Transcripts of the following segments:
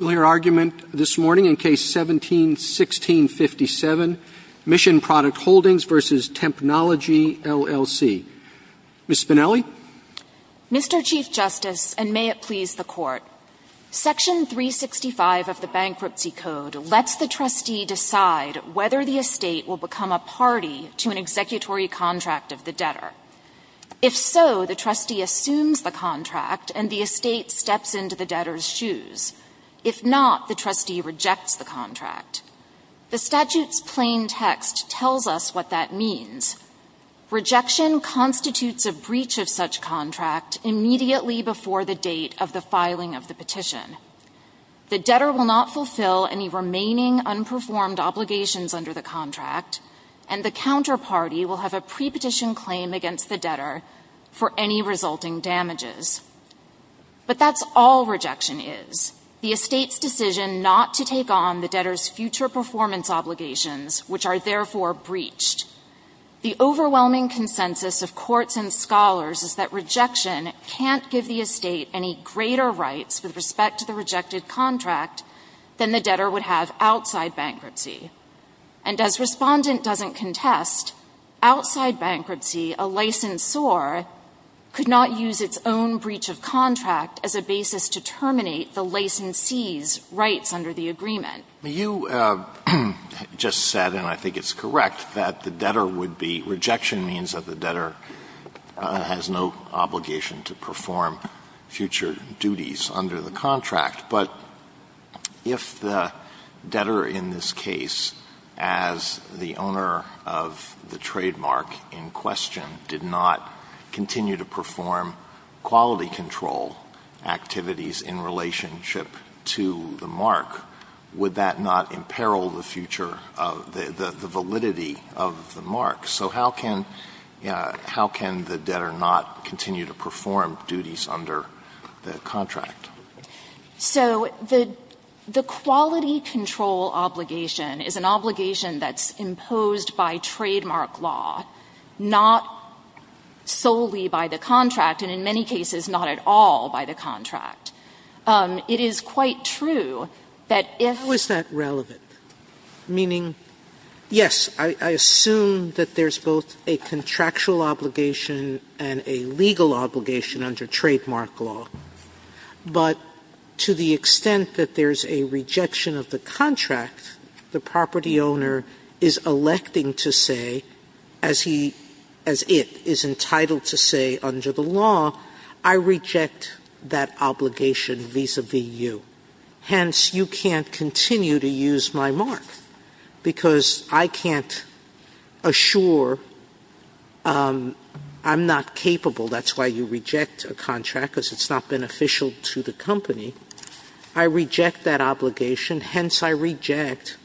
Mr. Chief Justice, and may it please the Court, Section 365 of the Bankruptcy Code lets the trustee decide whether the estate will become a party to an executory contract of the debtor. If so, the trustee assumes the contract, and the estate steps into the debtor's shoes. If so, the trustee assumes the debtor's shoes. If not, the trustee rejects the contract. The statute's plain text tells us what that means. Rejection constitutes a breach of such contract immediately before the date of the filing of the petition. The debtor will not fulfill any remaining unperformed obligations under the contract, and the counterparty will have a pre-petition claim against the debtor for any resulting damages. But that's all rejection is, the estate's decision not to take on the debtor's future performance obligations, which are therefore breached. The overwhelming consensus of courts and scholars is that rejection can't give the estate any greater rights with respect to the rejected contract than the debtor would have outside bankruptcy. And as Respondent doesn't contest, outside bankruptcy, a licensor could not use its own breach of contract as a basis to terminate the licensee's rights under the agreement. Alito, you just said, and I think it's correct, that the debtor would be – rejection means that the debtor has no obligation to perform future duties under the contract. But if the debtor in this case, as the owner of the trademark in question, did not continue to perform quality control activities in relationship to the mark, would that not imperil the future of – the validity of the mark? So how can – how can the debtor not continue to perform duties under the contract? So the – the quality control obligation is an obligation that's imposed by trademark law, not solely by the contract, and in many cases not at all by the contract. It is quite true that if – Sotomayor, how is that relevant? Meaning, yes, I assume that there's both a contractual obligation and a legal obligation under trademark law, but to the extent that there's a rejection of the contract, the property owner is electing to say, as he – as it is entitled to say under the law, I reject that obligation vis-à-vis you. Hence, you can't continue to use my mark, because I can't assure I'm not capable – that's why you reject a contract, because it's not beneficial to the company – I reject that obligation, hence I reject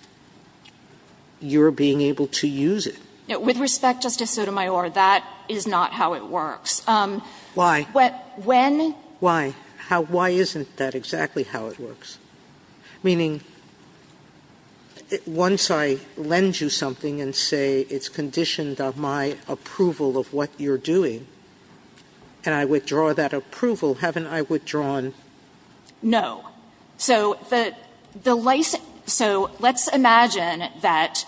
your being able to use it. With respect, Justice Sotomayor, that is not how it works. Why? When – Why? How – why isn't that exactly how it works? Meaning, once I lend you something and say it's conditioned of my approval of what you're doing, and I withdraw that approval, haven't I withdrawn? No. So the license – so let's imagine that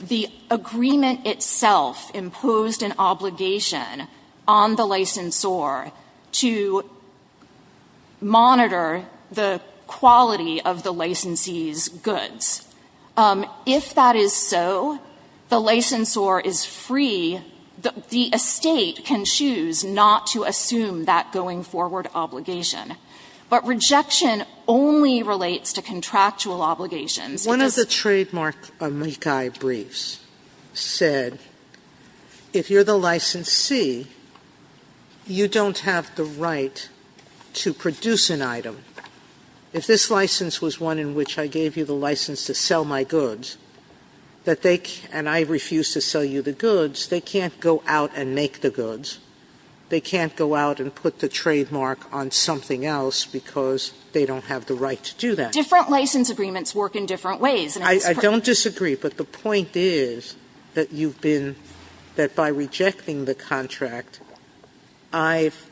the agreement itself imposed an obligation on the licensor to monitor the quality of the licensee's goods. If that is so, the One of the trademark amici briefs said, if you're the licensee, you don't have the right to produce an item. If this license was one in which I gave you the license to sell my goods, that they – and I refuse to sell you the goods, they can't go out and make the goods. They can't go out and put the trademark on something else because they don't have the right to do that. Different license agreements work in different ways. I don't disagree, but the point is that you've been – that by rejecting the contract, I've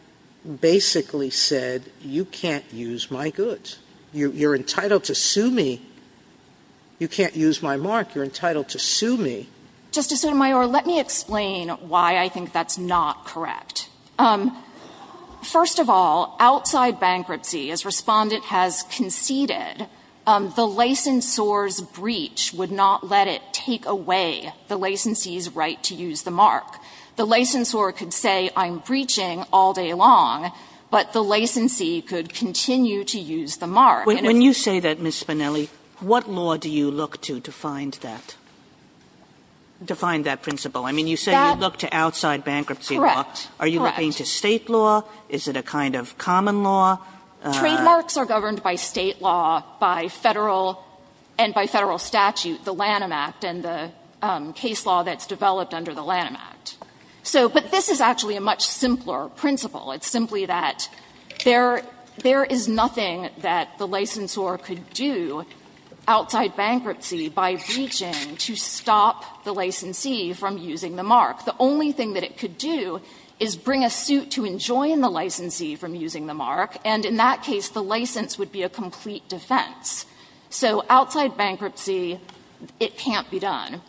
basically said you can't use my goods. You're entitled to sue me. You can't use my mark. You're entitled to sue me. Justice Sotomayor, let me explain why I think that's not correct. First of all, outside bankruptcy, as Respondent has conceded, the licensor's breach would not let it take away the licensee's right to use the mark. The licensor could say I'm breaching all day long, but the licensee could continue to use the mark. When you say that, Ms. Spinelli, what law do you look to to find that – to find that principle? I mean, you say you look to outside bankruptcy law. Correct. Correct. Are you looking to State law? Is it a kind of common law? Trademarks are governed by State law, by Federal – and by Federal statute, the Lanham Act and the case law that's developed under the Lanham Act. So – but this is actually a much simpler principle. It's simply that there – there is nothing that the licensor could do outside bankruptcy by breaching to stop the licensee from using the mark. The only thing that it could do is bring a suit to enjoin the licensee from using the mark, and in that case, the license would be a complete defense. So outside bankruptcy, it can't be done.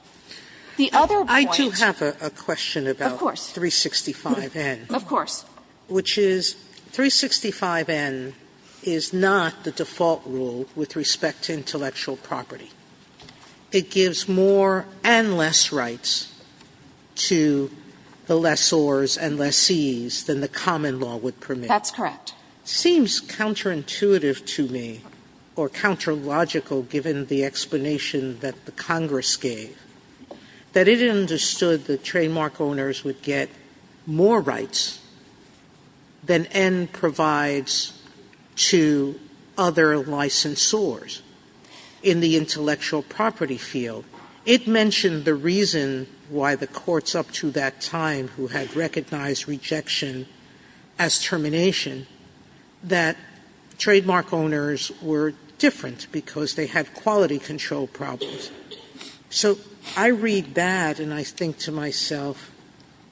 The other point – Sotomayor, I do have a question about – Of course. 365N. Of course. Which is, 365N is not the default rule with respect to intellectual property. It gives more and less rights to the lessors and lessees than the common law would permit. That's correct. It seems counterintuitive to me, or counter-logical given the explanation that the Congress gave, that it understood the trademark owners would get more rights than N provides to other licensors in the intellectual property field. It mentioned the reason why the courts up to that time who had recognized rejection as termination, that trademark owners were different because they had quality control problems. So I read that and I think to myself,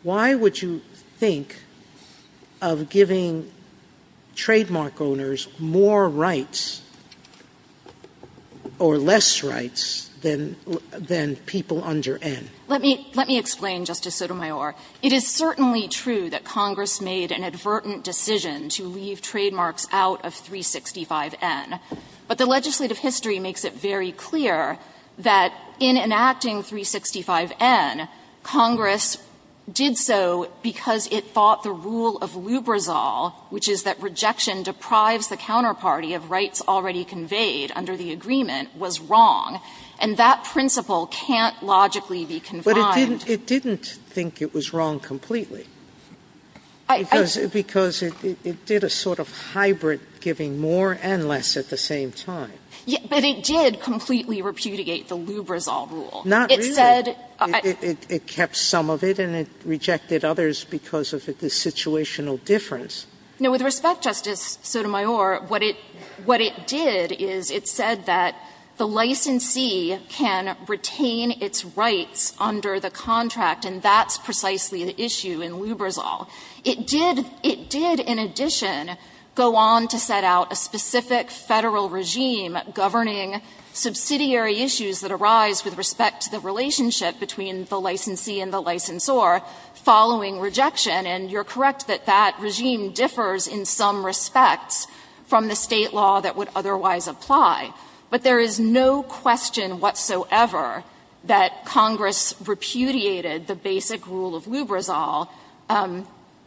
why would you think of giving trademark owners more rights or less rights than people under N? Let me explain, Justice Sotomayor. It is certainly true that Congress made an advertent decision to leave trademarks out of 365N, but the legislative history makes it very clear that in enacting 365N, Congress did so because it thought the rule of Lubrizol, which is that rejection deprives the counterparty of rights already conveyed under the agreement, was wrong. And that principle can't logically be confined. But it didn't think it was wrong completely, because it did a sort of hybrid giving more and less at the same time. But it did completely repudiate the Lubrizol rule. Not really. It kept some of it and it rejected others because of the situational difference. Now, with respect, Justice Sotomayor, what it did is it said that the licensee can retain its rights under the contract, and that's precisely the issue in Lubrizol. It did, in addition, go on to set out a specific Federal regime governing subsidiary issues that arise with respect to the relationship between the licensee and the licensor following rejection. And you're correct that that regime differs in some respects from the State law that would otherwise apply. But there is no question whatsoever that Congress repudiated the basic rule of Lubrizol,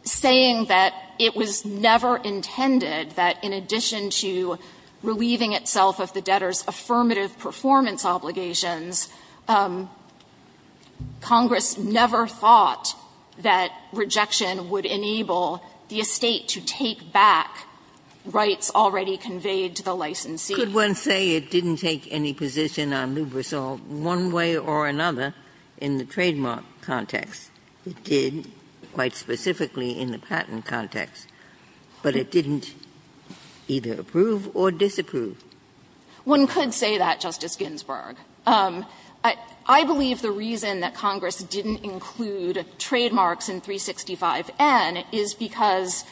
saying that it was never intended that, in addition to relieving itself of the debtor's affirmative performance obligations, Congress never thought that rejection would enable the estate to take back rights already conveyed to the licensee. Ginsburg. One could say it didn't take any position on Lubrizol one way or another in the trademark context. It did, quite specifically, in the patent context. But it didn't either approve or disapprove. One could say that, Justice Ginsburg. I believe the reason that Congress didn't include trademarks in 365N is because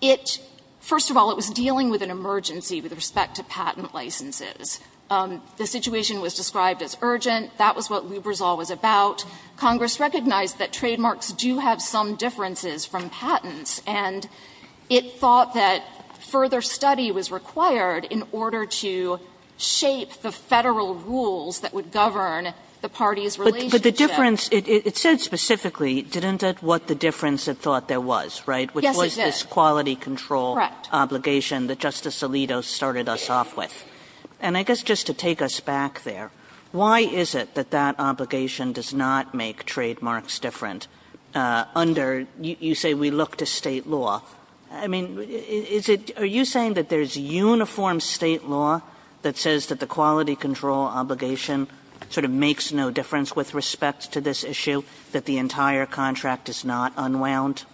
it, first of all, it was dealing with an emergency with respect to patent licenses. The situation was described as urgent. That was what Lubrizol was about. Congress recognized that trademarks do have some differences from patents, and it thought that further study was required in order to shape the Federal rules that would govern the parties' relationship. Kagan. And again, the difference, it said specifically, didn't it, what the difference it thought there was, right? Yes it did. Which was this quality control obligation that Justice Alito started us off with. And I guess just to take us back there, why is it that that obligation does not make trademarks different under, you say we look to state law. I mean, is it, are you saying that there's uniform state law that says that the quality control obligation sort of makes no difference with respect to this issue, that the entire contract is not unwound?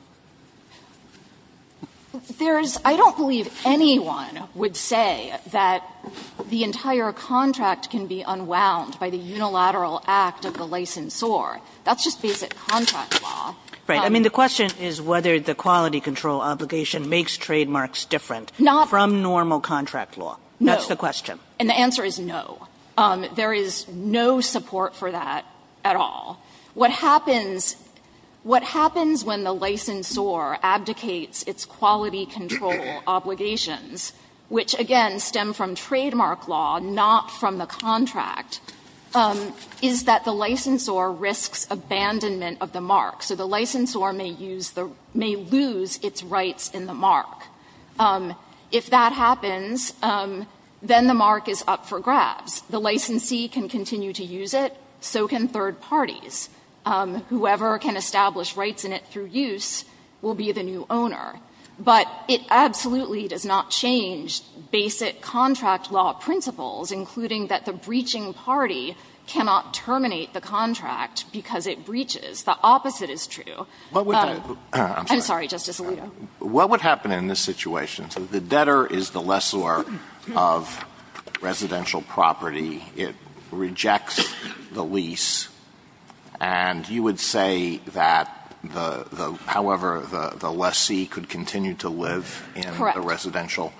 There's, I don't believe anyone would say that the entire contract can be unwound by the unilateral act of the licensor. That's just basic contract law. Right. I mean, the question is whether the quality control obligation makes trademarks different from normal contract law. No. That's the question. And the answer is no. There is no support for that at all. What happens, what happens when the licensor abdicates its quality control obligations, which again stem from trademark law, not from the contract, is that the licensor risks abandonment of the mark. So the licensor may use the, may lose its rights in the mark. If that happens, then the mark is up for grabs. The licensee can continue to use it, so can third parties. Whoever can establish rights in it through use will be the new owner. But it absolutely does not change basic contract law principles, including that the breaching party cannot terminate the contract because it breaches. The opposite is true. I'm sorry, Justice Alito. What would happen in this situation? The debtor is the lessor of residential property. It rejects the lease. And you would say that the, however, the lessee could continue to live in a residential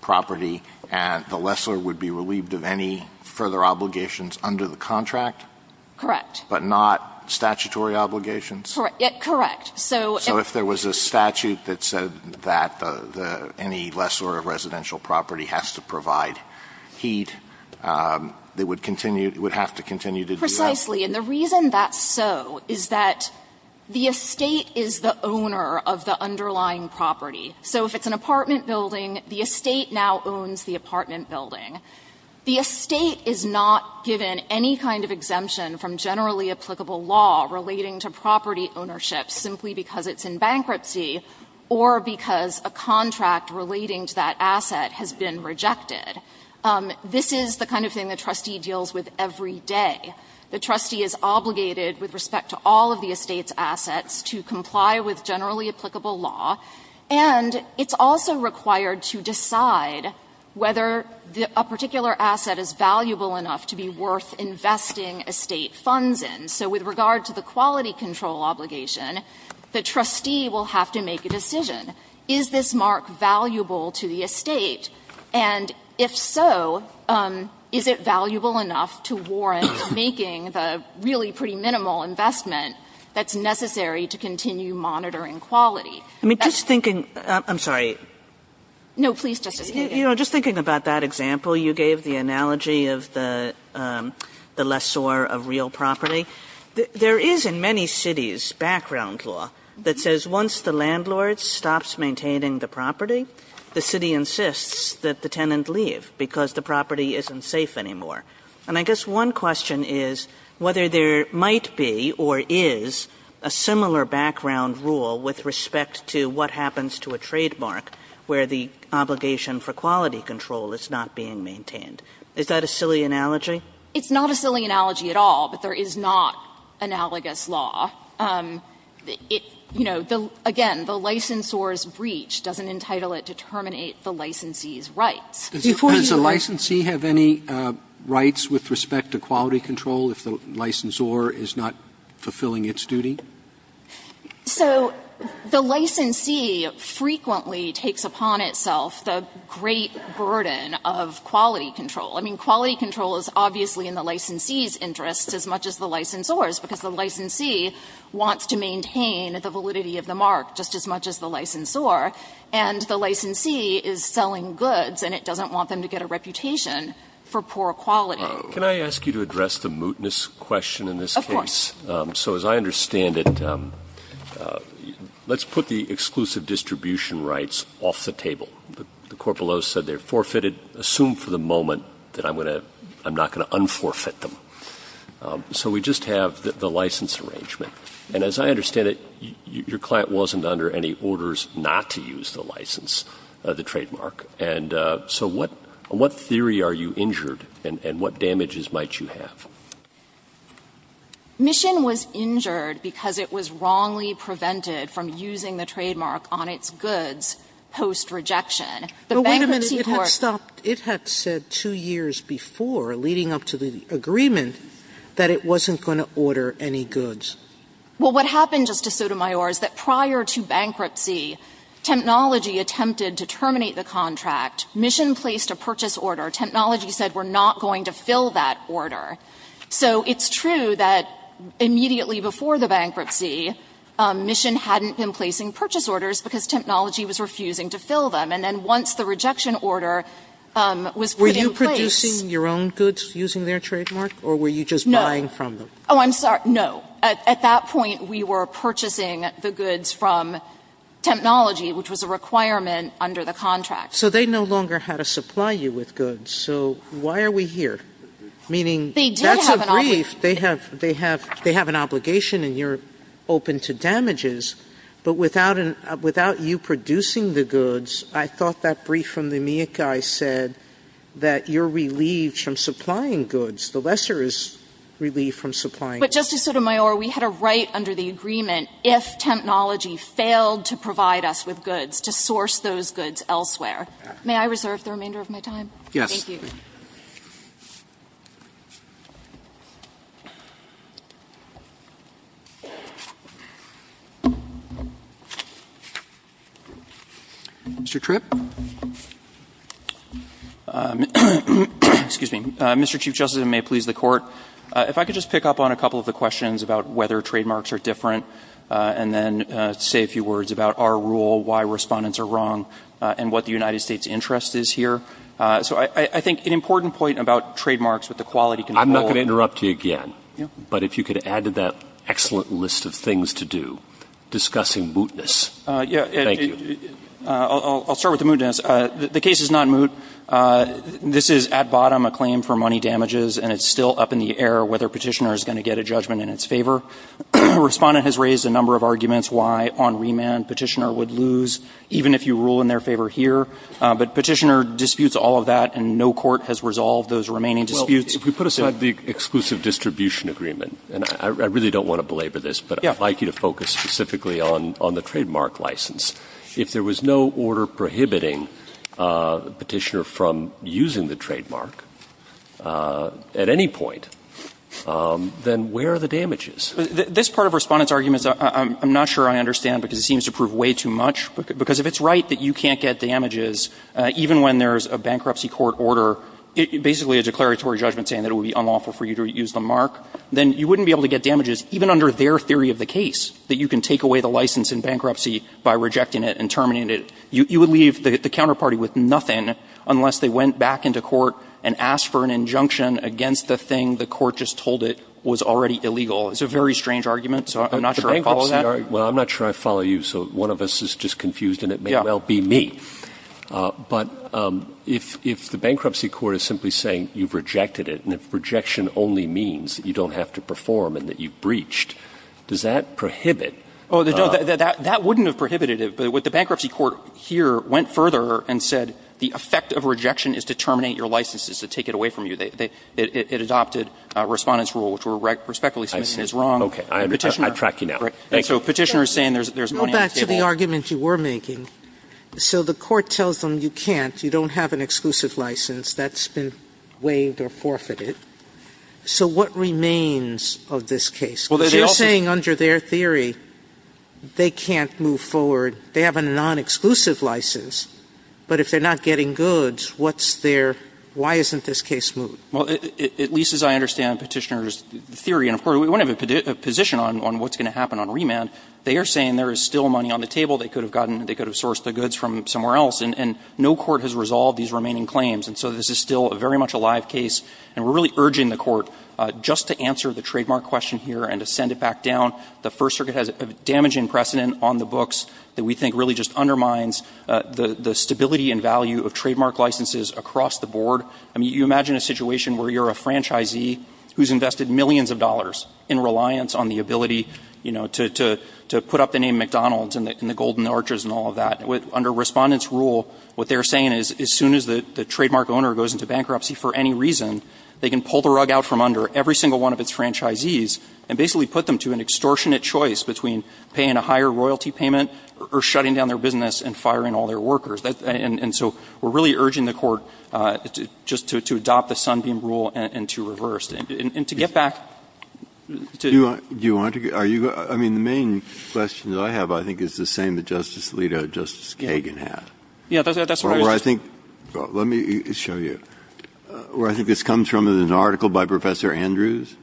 property and the lessor would be relieved of any further obligations under the contract? Correct. But not statutory obligations? Correct. So if there was a statute that said that any lessor of residential property has to provide heat, it would continue, it would have to continue to do that? Precisely. And the reason that's so is that the estate is the owner of the underlying property. So if it's an apartment building, the estate now owns the apartment building. The estate is not given any kind of exemption from generally applicable law relating to property ownership simply because it's in bankruptcy or because a contract relating to that asset has been rejected. This is the kind of thing the trustee deals with every day. The trustee is obligated with respect to all of the estate's assets to comply with generally applicable law. And it's also required to decide whether a particular asset is valuable enough to be worth investing estate funds in. So with regard to the quality control obligation, the trustee will have to make a decision, is this mark valuable to the estate? And if so, is it valuable enough to warrant making the really pretty minimal investment that's necessary to continue monitoring quality? I mean, just thinking – I'm sorry. No, please, Justice Kagan. Just thinking about that example you gave, the analogy of the lessor of real property, there is in many cities background law that says once the landlord stops maintaining the property, the city insists that the tenant leave because the property isn't safe anymore. And I guess one question is whether there might be or is a similar background rule with respect to what happens to a trademark where the obligation for quality control is not being maintained. Is that a silly analogy? It's not a silly analogy at all, but there is not analogous law. You know, again, the licensor's breach doesn't entitle it to terminate the licensee's rights. Does the licensee have any rights with respect to quality control if the licensor is not fulfilling its duty? So the licensee frequently takes upon itself the great burden of quality control. I mean, quality control is obviously in the licensee's interest as much as the licensor's because the licensee wants to maintain the validity of the mark just as much as the licensor, and the licensee is selling goods and it doesn't want them to get a reputation for poor quality. Can I ask you to address the mootness question in this case? Of course. So as I understand it, let's put the exclusive distribution rights off the table. The corporal owes said they're forfeited. Assume for the moment that I'm going to – I'm not going to un-forfeit them. So we just have the license arrangement. And as I understand it, your client wasn't under any orders not to use the license of the trademark. And so what theory are you injured and what damages might you have? So this is the case that the bankruptcy court decided to place a trademark on its goods post rejection. The bankruptcy court – But wait a minute. It had stopped – it had said two years before, leading up to the agreement, that it wasn't going to order any goods. Well, what happened, Justice Sotomayor, is that prior to bankruptcy, Technology attempted to terminate the contract. Mission placed a purchase order. Technology said, we're not going to fill that order. So it's true that immediately before the bankruptcy, Mission hadn't been placing purchase orders because Technology was refusing to fill them. And then once the rejection order was put in place – Were you producing your own goods using their trademark, or were you just buying from them? No. Oh, I'm sorry. No. At that point, we were purchasing the goods from Technology, which was a requirement under the contract. So they no longer had to supply you with goods. So why are we here? Meaning, that's a brief. They have an obligation, and you're open to damages. But without you producing the goods, I thought that brief from the MIAC guy said that you're relieved from supplying goods. The lessor is relieved from supplying goods. But, Justice Sotomayor, we had a right under the agreement, if Technology failed to provide us with goods, to source those goods elsewhere. May I reserve the remainder of my time? Yes. Thank you. Mr. Tripp? Excuse me. Mr. Chief Justice, and may it please the Court, if I could just pick up on a couple of the questions about whether trademarks are different, and then say a few words about our rule, why respondents are wrong, and what the United States' interest is here. So I think an important point about trademarks, what the quality can involve— I'm not going to interrupt you again. But if you could add to that excellent list of things to do, discussing mootness. Thank you. I'll start with the mootness. The case is not moot. This is, at bottom, a claim for money damages, and it's still up in the air whether Petitioner is going to get a judgment in its favor. Respondent has raised a number of arguments why, on remand, Petitioner would lose, even if you rule in their favor here. But Petitioner disputes all of that, and no court has resolved those remaining disputes. Well, if we put aside the exclusive distribution agreement, and I really don't want to belabor this, but I'd like you to focus specifically on the trademark license. If there was no order prohibiting Petitioner from using the trademark at any point, then where are the damages? This part of Respondent's argument, I'm not sure I understand, because it seems to prove way too much. Because if it's right that you can't get damages, even when there's a bankruptcy court order, basically a declaratory judgment saying that it would be unlawful for you to use the mark, then you wouldn't be able to get damages, even under their theory of the case, that you can take away the license in bankruptcy by rejecting it and terminating it. You would leave the counterparty with nothing unless they went back into court and said, no, that's the thing, the court just told it was already illegal. It's a very strange argument, so I'm not sure I follow that. Well, I'm not sure I follow you, so one of us is just confused, and it may well be me. But if the bankruptcy court is simply saying you've rejected it, and if rejection only means that you don't have to perform and that you've breached, does that prohibit Oh, no, that wouldn't have prohibited it, but what the bankruptcy court here went further and said, the effect of rejection is to terminate your license, is to take it away from you. It adopted Respondent's rule, which were respectfully submitted as wrong. Okay. I track you down. So Petitioner is saying there's money on the table. Go back to the argument you were making. So the court tells them you can't, you don't have an exclusive license. That's been waived or forfeited. So what remains of this case? Because you're saying under their theory, they can't move forward. They have a non-exclusive license, but if they're not getting goods, what's their reason for not moving forward? Why isn't this case moved? Well, at least as I understand Petitioner's theory, and of course, we wouldn't have a position on what's going to happen on remand. They are saying there is still money on the table. They could have gotten, they could have sourced the goods from somewhere else, and no court has resolved these remaining claims. And so this is still very much a live case, and we're really urging the Court just to answer the trademark question here and to send it back down. The First Circuit has a damaging precedent on the books that we think really just a situation where you're a franchisee who's invested millions of dollars in reliance on the ability, you know, to put up the name McDonald's and the Golden Arches and all of that. Under Respondent's rule, what they're saying is as soon as the trademark owner goes into bankruptcy for any reason, they can pull the rug out from under every single one of its franchisees and basically put them to an extortionate choice between paying a higher royalty payment or shutting down their business and firing all their members. And so we're really urging the Court just to adopt the Sunbeam rule and to reverse it. And to get back. Breyer. Do you want to? Are you going to? I mean, the main question that I have, I think, is the same that Justice Alito and Justice Kagan have. Yeah, that's what I was just saying. Well, where I think, well, let me show you. Where I think this comes from is an article by Professor Andrews,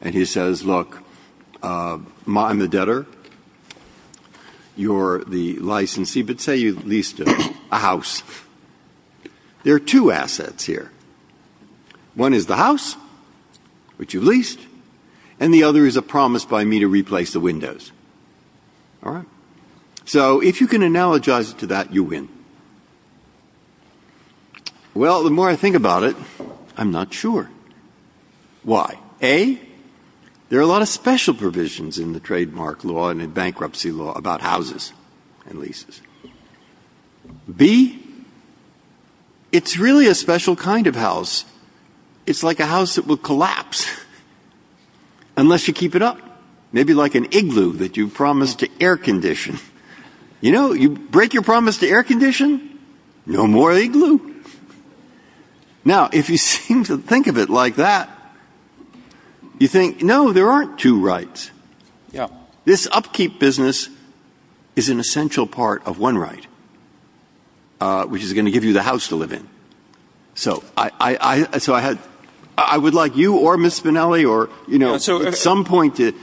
and he says, look, I'm a debtor. You're the licensee, but say you leased a house. There are two assets here. One is the house, which you leased, and the other is a promise by me to replace the windows. All right? So if you can analogize it to that, you win. Well, the more I think about it, I'm not sure. Why? A, there are a lot of special provisions in the trademark law and in bankruptcy law about houses and leases. B, it's really a special kind of house. It's like a house that will collapse unless you keep it up. Maybe like an igloo that you promised to air condition. You know, you break your promise to air condition, no more igloo. Now, if you seem to think of it like that, you think, no, there aren't two rights. Yeah. This upkeep business is an essential part of one right, which is going to give you the house to live in. So I would like you or Ms. Spinelli or, you know, at some point to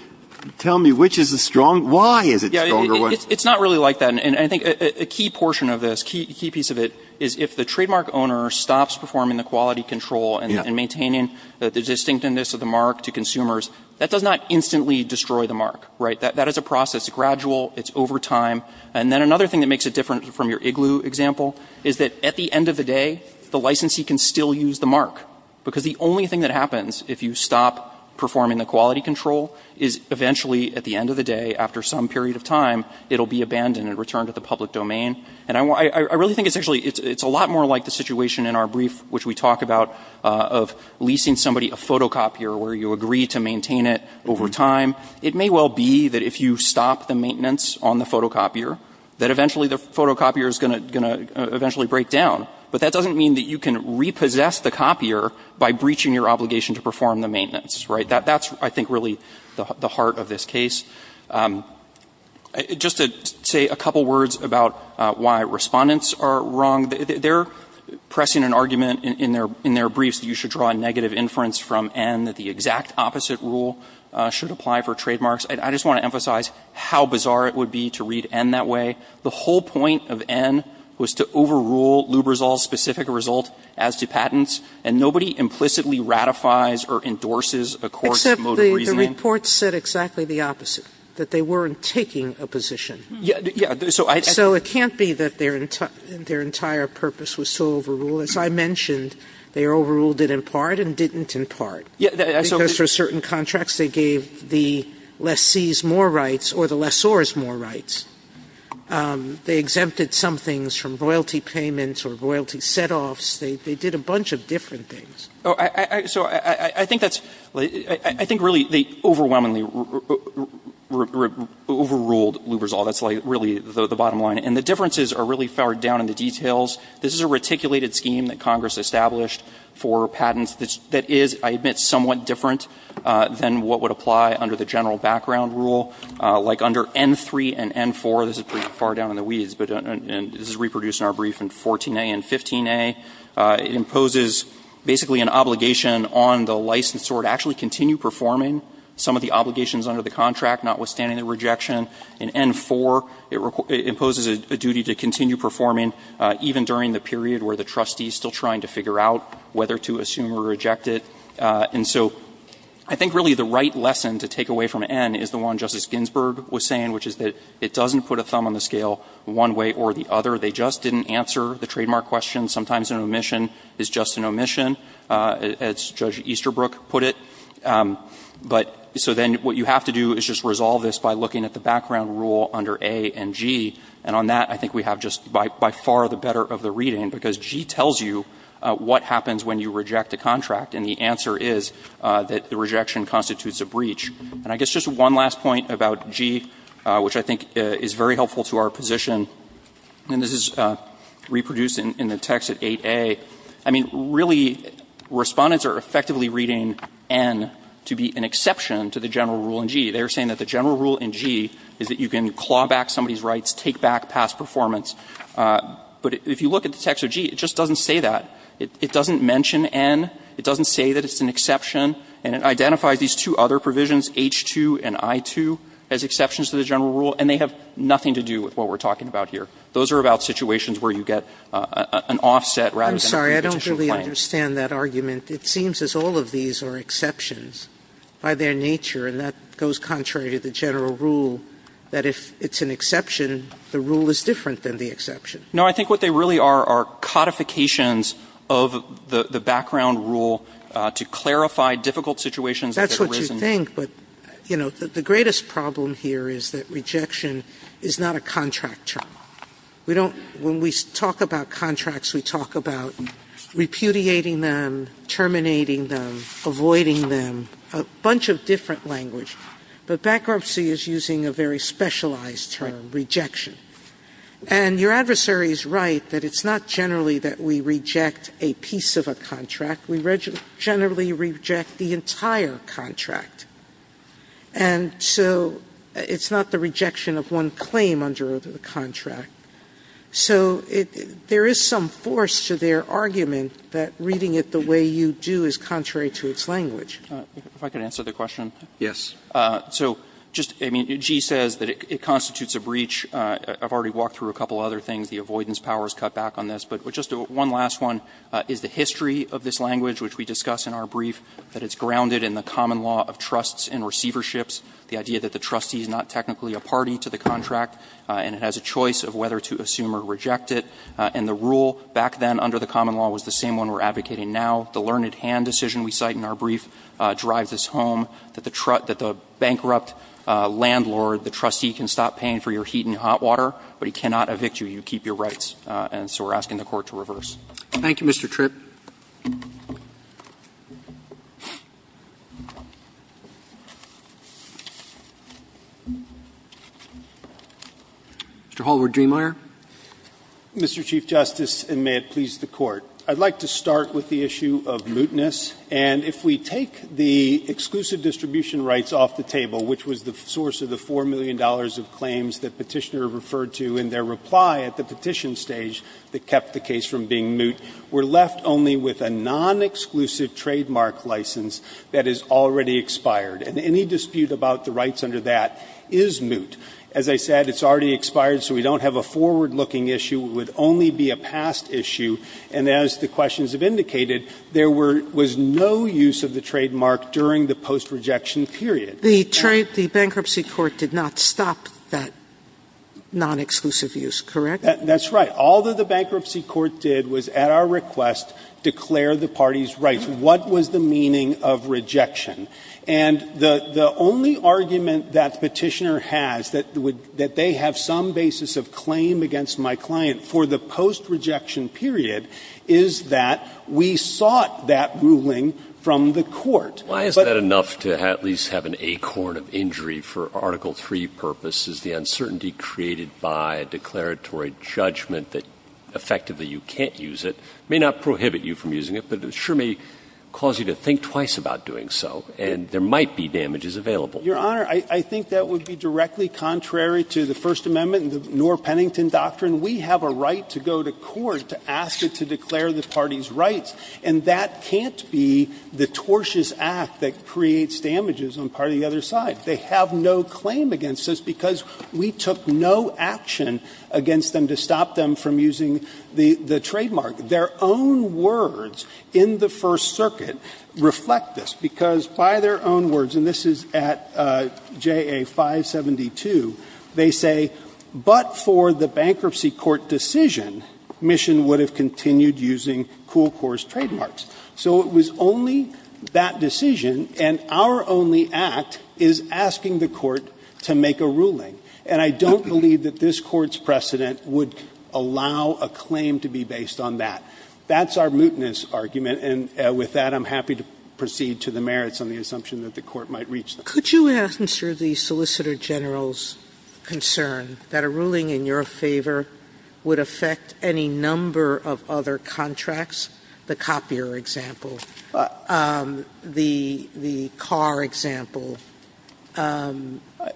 tell me which is the strong, why is it the stronger one? Yeah, it's not really like that. And I think a key portion of this, key piece of it is if the trademark owner stops performing the quality control and maintaining the distinctiveness of the mark to consumers, that does not instantly destroy the mark, right? That is a process. It's gradual. It's over time. And then another thing that makes it different from your igloo example is that at the end of the day, the licensee can still use the mark. Because the only thing that happens if you stop performing the quality control is eventually at the end of the day, after some period of time, it'll be abandoned and returned to the public domain. And I really think it's actually, it's a lot more like the situation in our brief, which we talk about, of leasing somebody a photocopier where you agree to maintain it over time. It may well be that if you stop the maintenance on the photocopier, that eventually the photocopier is going to eventually break down. But that doesn't mean that you can repossess the copier by breaching your obligation to perform the maintenance, right? That's, I think, really the heart of this case. Just to say a couple words about why respondents are wrong. They're pressing an argument in their briefs that you should draw a negative inference from N, that the exact opposite rule should apply for trademarks. I just want to emphasize how bizarre it would be to read N that way. The whole point of N was to overrule Lubrizol's specific result as to patents. And nobody implicitly ratifies or endorses a court's mode of reasoning. Sotomayor. Except the report said exactly the opposite, that they weren't taking a position. Yeah. So it can't be that their entire purpose was to overrule. As I mentioned, they overruled it in part and didn't in part. Because for certain contracts, they gave the lessees more rights or the lessors more rights. They exempted some things from royalty payments or royalty setoffs. They did a bunch of different things. So I think that's, I think really they overwhelmingly overruled Lubrizol. That's really the bottom line. And the differences are really far down in the details. This is a reticulated scheme that Congress established for patents that is, I admit, somewhat different than what would apply under the general background rule. Like under N-3 and N-4, this is pretty far down in the weeds, but this is reproduced in our brief in 14a and 15a. It imposes basically an obligation on the licensor to actually continue performing some of the obligations under the contract, notwithstanding the rejection. In N-4, it imposes a duty to continue performing even during the period where the trustee is still trying to figure out whether to assume or reject it. And so I think really the right lesson to take away from N is the one Justice Ginsburg was saying, which is that it doesn't put a thumb on the scale one way or the other. They just didn't answer the trademark question. Sometimes an omission is just an omission, as Judge Easterbrook put it. But so then what you have to do is just resolve this by looking at the background rule under A and G, and on that I think we have just by far the better of the reading because G tells you what happens when you reject a contract, and the answer is that the rejection constitutes a breach. And I guess just one last point about G, which I think is very helpful to our position here, and this is reproduced in the text at 8A. I mean, really Respondents are effectively reading N to be an exception to the general rule in G. They are saying that the general rule in G is that you can claw back somebody's rights, take back past performance. But if you look at the text of G, it just doesn't say that. It doesn't mention N. It doesn't say that it's an exception. And it identifies these two other provisions, H-2 and I-2, as exceptions to the general rule, and they have nothing to do with what we're talking about here. Those are about situations where you get an offset rather than a competition Sotomayor, I'm sorry. I don't really understand that argument. It seems as all of these are exceptions by their nature, and that goes contrary to the general rule, that if it's an exception, the rule is different than the exception. No. I think what they really are are codifications of the background rule to clarify difficult situations that have arisen. Sotomayor, I think, but, you know, the greatest problem here is that rejection is not a contract term. We don't – when we talk about contracts, we talk about repudiating them, terminating them, avoiding them, a bunch of different language. But bankruptcy is using a very specialized term, rejection. And your adversary is right that it's not generally that we reject a piece of a contract. We generally reject the entire contract. And so it's not the rejection of one claim under the contract. So there is some force to their argument that reading it the way you do is contrary to its language. If I could answer the question. Yes. So just, I mean, G says that it constitutes a breach. I've already walked through a couple other things. The avoidance power is cut back on this. But just one last one is the history of this language, which we discuss in our brief, that it's grounded in the common law of trusts and receiverships, the idea that the trustee is not technically a party to the contract, and it has a choice of whether to assume or reject it. And the rule back then under the common law was the same one we're advocating now. The learned hand decision we cite in our brief drives us home that the bankrupt landlord, the trustee, can stop paying for your heat and hot water, but he cannot evict you. You keep your rights. And so we're asking the Court to reverse. Roberts. Thank you, Mr. Tripp. Mr. Hallward-Driemeier. Mr. Chief Justice, and may it please the Court. I'd like to start with the issue of mootness. And if we take the exclusive distribution rights off the table, which was the source of the $4 million of claims that Petitioner referred to in their reply at the petition stage that kept the case from being moot, we're left only with a non-exclusive trademark license that is already expired. And any dispute about the rights under that is moot. As I said, it's already expired, so we don't have a forward-looking issue. It would only be a past issue. And as the questions have indicated, there was no use of the trademark during the post-rejection period. The bankruptcy court did not stop that non-exclusive use, correct? That's right. All that the bankruptcy court did was, at our request, declare the party's rights. What was the meaning of rejection? And the only argument that Petitioner has, that they have some basis of claim against my client for the post-rejection period, is that we sought that ruling from the Court. Why is that enough to at least have an acorn of injury for Article III purposes? The uncertainty created by a declaratory judgment that effectively you can't use it may not prohibit you from using it, but it sure may cause you to think twice about doing so, and there might be damages available. Your Honor, I think that would be directly contrary to the First Amendment and the Knorr-Pennington doctrine. We have a right to go to court to ask it to declare the party's rights, and that can't be the tortious act that creates damages on part of the other side. They have no claim against us because we took no action against them to stop them from using the trademark. Their own words in the First Circuit reflect this, because by their own words, and this is at JA 572, they say, But for the bankruptcy court decision, Mission would have continued using Cool Corps' trademarks. So it was only that decision, and our only act is asking the Court to make a ruling, and I don't believe that this Court's precedent would allow a claim to be based on that. That's our mootness argument, and with that I'm happy to proceed to the merits on the assumption that the Court might reach them. Sotomayor, could you answer the Solicitor General's concern that a ruling in your favor would affect any number of other contracts, the copier example, the car example,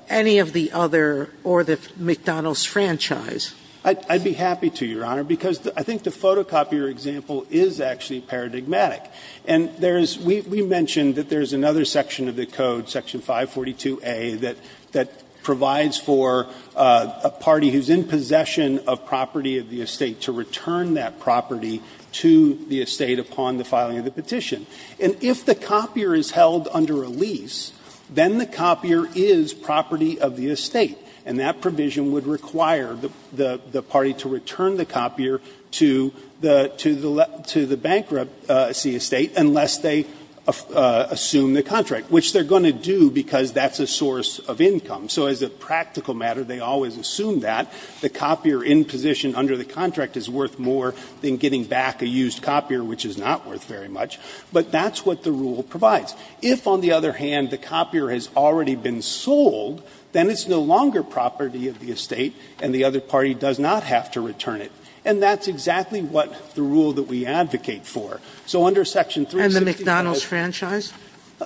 any of the other or the McDonald's franchise? I'd be happy to, Your Honor, because I think the photocopier example is actually paradigmatic. And there is we mentioned that there is another section of the code, section 542a, that provides for a party who is in possession of property of the estate to return that property to the estate upon the filing of the petition. And if the copier is held under a lease, then the copier is property of the estate, and that provision would require the party to return the copier to the bankruptcy estate unless they assume the contract, which they're going to do because that's a source of income. So as a practical matter, they always assume that. The copier in position under the contract is worth more than getting back a used copier, which is not worth very much. But that's what the rule provides. If, on the other hand, the copier has already been sold, then it's no longer property of the estate, and the other party does not have to return it. And that's exactly what the rule that we advocate for. So under section 352a. Sotomayor, and the McDonald's franchise?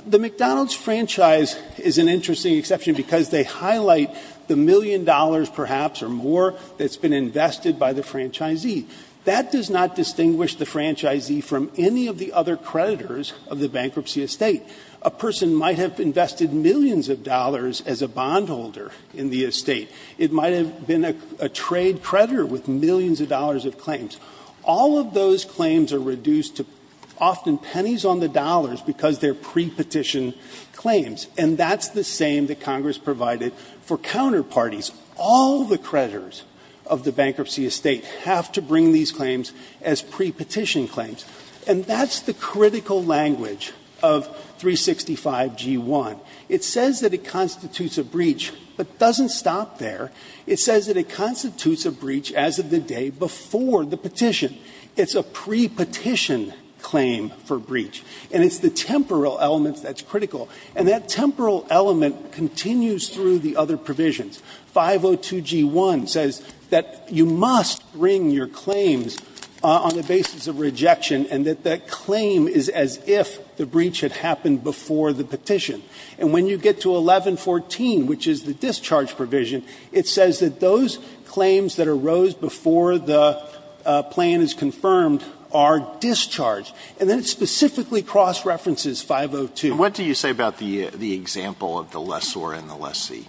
The McDonald's franchise is an interesting exception because they highlight the million dollars perhaps or more that's been invested by the franchisee. That does not distinguish the franchisee from any of the other creditors of the bankruptcy estate. A person might have invested millions of dollars as a bondholder in the estate. It might have been a trade creditor with millions of dollars of claims. All of those claims are reduced to often pennies on the dollars because they're prepetition claims. And that's the same that Congress provided for counterparties. All the creditors of the bankruptcy estate have to bring these claims as prepetition claims. And that's the critical language of 365g1. It says that it constitutes a breach, but it doesn't stop there. It says that it constitutes a breach as of the day before the petition. It's a prepetition claim for breach. And it's the temporal element that's critical. And that temporal element continues through the other provisions. 502g1 says that you must bring your claims on the basis of rejection and that that claim is as if the breach had happened before the petition. And when you get to 1114, which is the discharge provision, it says that those claims that arose before the plan is confirmed are discharged. And then it specifically cross-references 502. Alito, what do you say about the example of the lessor and the lessee?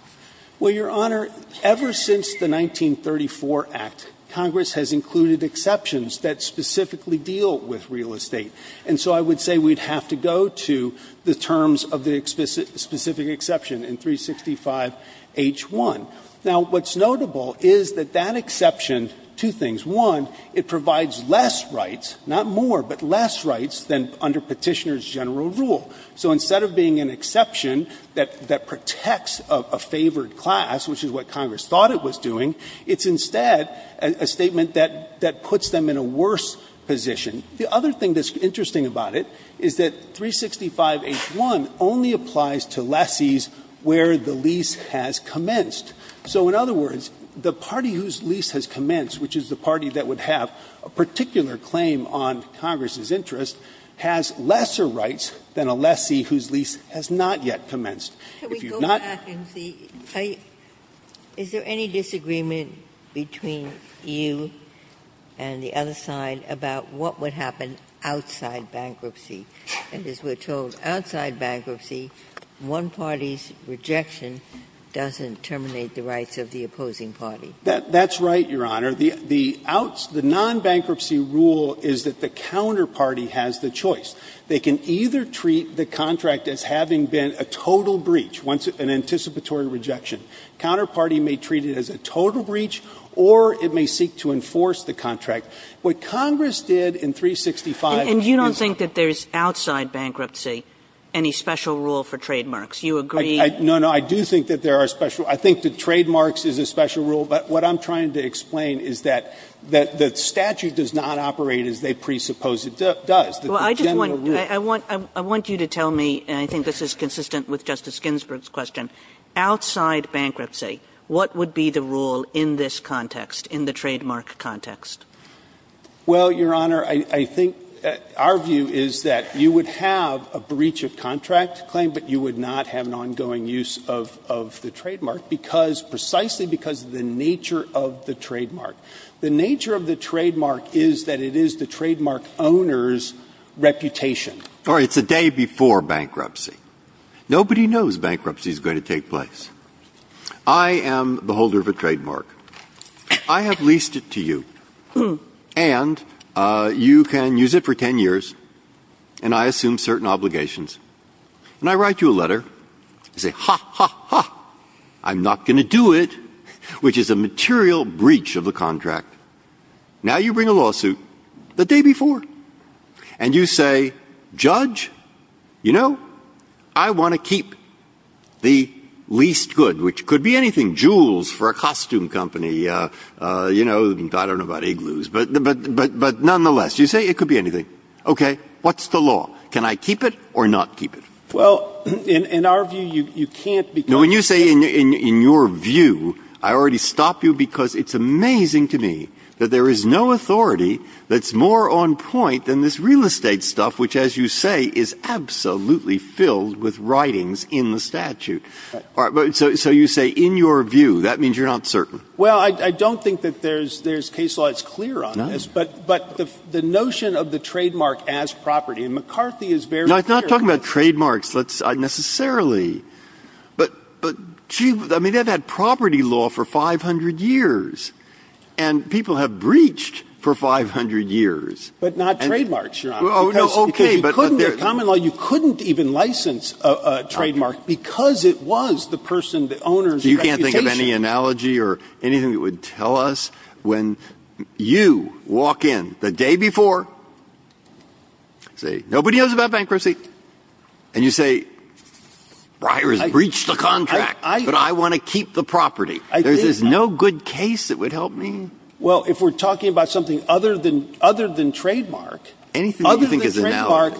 Well, Your Honor, ever since the 1934 Act, Congress has included exceptions that specifically deal with real estate. And so I would say we'd have to go to the terms of the specific exception in 365h1. Now, what's notable is that that exception, two things. One, it provides less rights, not more, but less rights than under Petitioner's general rule. So instead of being an exception that protects a favored class, which is what Congress thought it was doing, it's instead a statement that puts them in a worse position. The other thing that's interesting about it is that 365h1 only applies to lessees where the lease has commenced. So in other words, the party whose lease has commenced, which is the party that would have a particular claim on Congress's interest, has lesser rights than a lessee whose lease has not yet commenced. If you've not been to the other side about what would happen outside bankruptcy. And as we're told, outside bankruptcy, one party's rejection doesn't terminate the rights of the opposing party. That's right, Your Honor. The non-bankruptcy rule is that the counterparty has the choice. They can either treat the contract as having been a total breach, an anticipatory rejection. Counterparty may treat it as a total breach, or it may seek to enforce the contract. What Congress did in 365 is not. Kagan. And you don't think that there's outside bankruptcy any special rule for trademarks? You agree? No, no. I do think that there are special. I think that trademarks is a special rule. But what I'm trying to explain is that the statute does not operate as they presuppose it does. I just want you to tell me, and I think this is consistent with Justice Ginsburg's question, outside bankruptcy, what would be the rule in this context, in the trademark context? Well, Your Honor, I think our view is that you would have a breach of contract claim, but you would not have an ongoing use of the trademark because precisely because of the nature of the trademark. The nature of the trademark is that it is the trademark owner's reputation. All right. It's a day before bankruptcy. Nobody knows bankruptcy is going to take place. I am the holder of a trademark. I have leased it to you. And you can use it for 10 years, and I assume certain obligations. And I write you a letter. I say, ha, ha, ha, I'm not going to do it. Which is a material breach of the contract. Now you bring a lawsuit the day before. And you say, Judge, you know, I want to keep the leased good, which could be anything. Jewels for a costume company. You know, I don't know about igloos. But nonetheless, you say it could be anything. Okay. What's the law? Can I keep it or not keep it? Well, in our view, you can't because you can't keep it. I already stopped you because it's amazing to me that there is no authority that's more on point than this real estate stuff, which, as you say, is absolutely filled with writings in the statute. So you say in your view. That means you're not certain. Well, I don't think that there's case law that's clear on this. But the notion of the trademark as property, and McCarthy is very clear. I'm not talking about trademarks necessarily. But I mean, they've had property law for 500 years, and people have breached for 500 years. But not trademarks, Your Honor. Okay. Because you couldn't even license a trademark because it was the person, the owner's reputation. You can't think of any analogy or anything that would tell us when you walk in the day before, say, nobody knows about bankruptcy. And you say, Breyer has breached the contract, but I want to keep the property. There's no good case that would help me. Well, if we're talking about something other than trademark, other than trademark,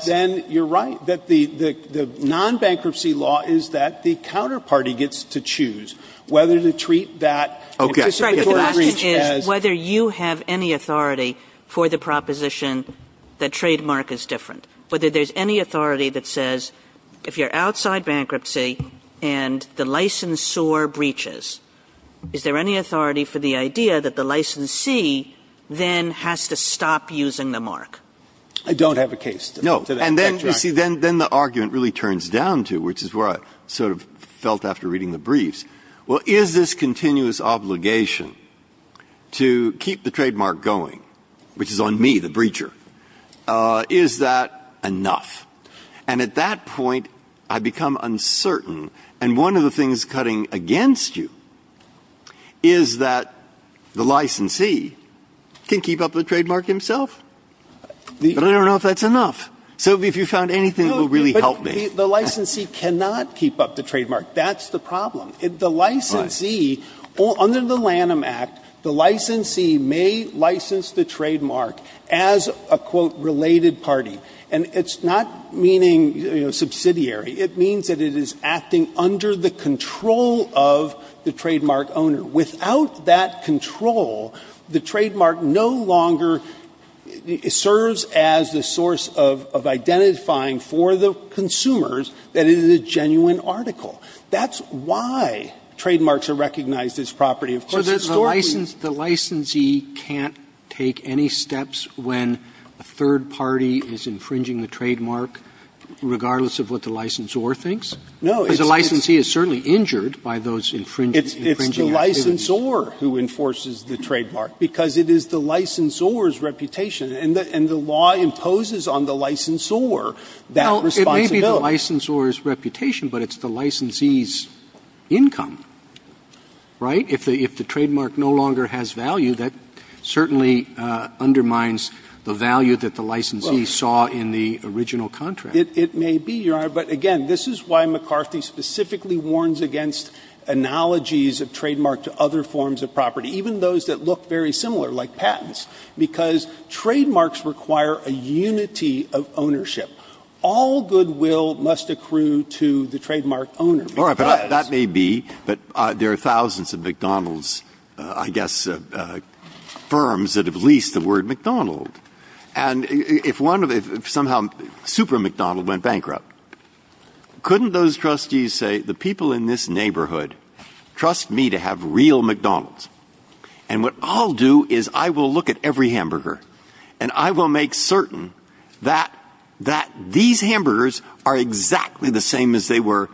then you're right that the non-bankruptcy law is that the counterparty gets to choose whether to treat that participatory breach as. Okay. But the question is whether you have any authority for the proposition that trademark is different. Whether there's any authority that says, if you're outside bankruptcy and the licensor breaches, is there any authority for the idea that the licensee then has to stop using the mark? I don't have a case to that. No. And then, you see, then the argument really turns down to, which is where I sort of felt after reading the briefs, well, is this continuous obligation to keep the trademark going, which is on me, the breacher? Is that enough? And at that point, I become uncertain. And one of the things cutting against you is that the licensee can keep up the trademark himself. But I don't know if that's enough. So if you found anything that will really help me. No, but the licensee cannot keep up the trademark. That's the problem. And it's not meaning, you know, subsidiary. It means that it is acting under the control of the trademark owner. Without that control, the trademark no longer serves as the source of identifying for the consumers that it is a genuine article. That's why trademarks are recognized as property. So the licensee can't take any steps when a third party is infringing the trademark, regardless of what the licensor thinks? No. Because the licensee is certainly injured by those infringing activities. It's the licensor who enforces the trademark, because it is the licensor's reputation. And the law imposes on the licensor that responsibility. Well, it may be the licensor's reputation, but it's the licensee's income, right? If the trademark no longer has value, that certainly undermines the value that the licensee saw in the original contract. It may be, Your Honor. But again, this is why McCarthy specifically warns against analogies of trademark to other forms of property, even those that look very similar, like patents. Because trademarks require a unity of ownership. All goodwill must accrue to the trademark owner. All right. But that may be, but there are thousands of McDonald's, I guess, firms that have leased the word McDonald. And if one of, if somehow Super McDonald went bankrupt, couldn't those trustees say, the people in this neighborhood trust me to have real McDonald's? And what I'll do is I will look at every hamburger, and I will make certain that these hamburgers are exactly the same as they were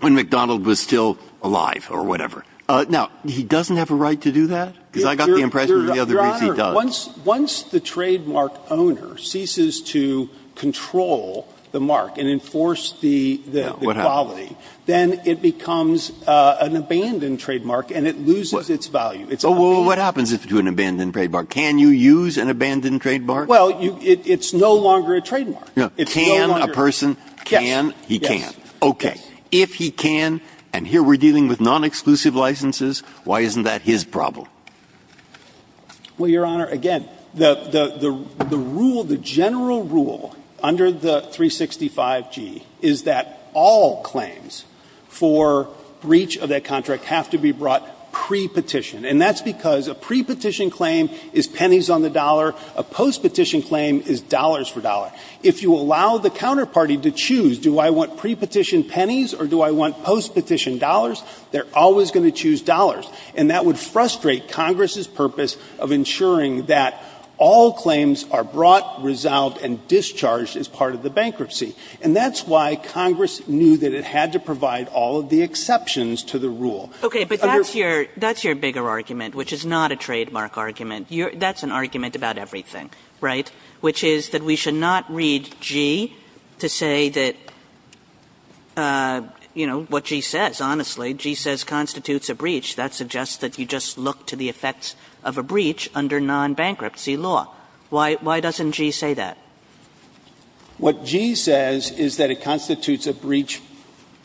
when McDonald was still alive or whatever. Now, he doesn't have a right to do that? Because I got the impression the other reason he does. Your Honor, once the trademark owner ceases to control the mark and enforce the quality, then it becomes an abandoned trademark, and it loses its value. It's not being used. Well, what happens if it's an abandoned trademark? Well, it's no longer a trademark. Can a person, can, he can. Okay. If he can, and here we're dealing with non-exclusive licenses, why isn't that his problem? Well, Your Honor, again, the rule, the general rule under the 365G is that all claims for breach of that contract have to be brought pre-petition. And that's because a pre-petition claim is pennies on the dollar. A post-petition claim is dollars for dollar. If you allow the counterparty to choose, do I want pre-petition pennies or do I want post-petition dollars, they're always going to choose dollars. And that would frustrate Congress's purpose of ensuring that all claims are brought, resolved, and discharged as part of the bankruptcy. And that's why Congress knew that it had to provide all of the exceptions to the rule. Okay. But that's your, that's your bigger argument, which is not a trademark argument. That's an argument about everything, right? Which is that we should not read G to say that, you know, what G says. Honestly, G says constitutes a breach. That suggests that you just look to the effects of a breach under non-bankruptcy law. Why doesn't G say that? What G says is that it constitutes a breach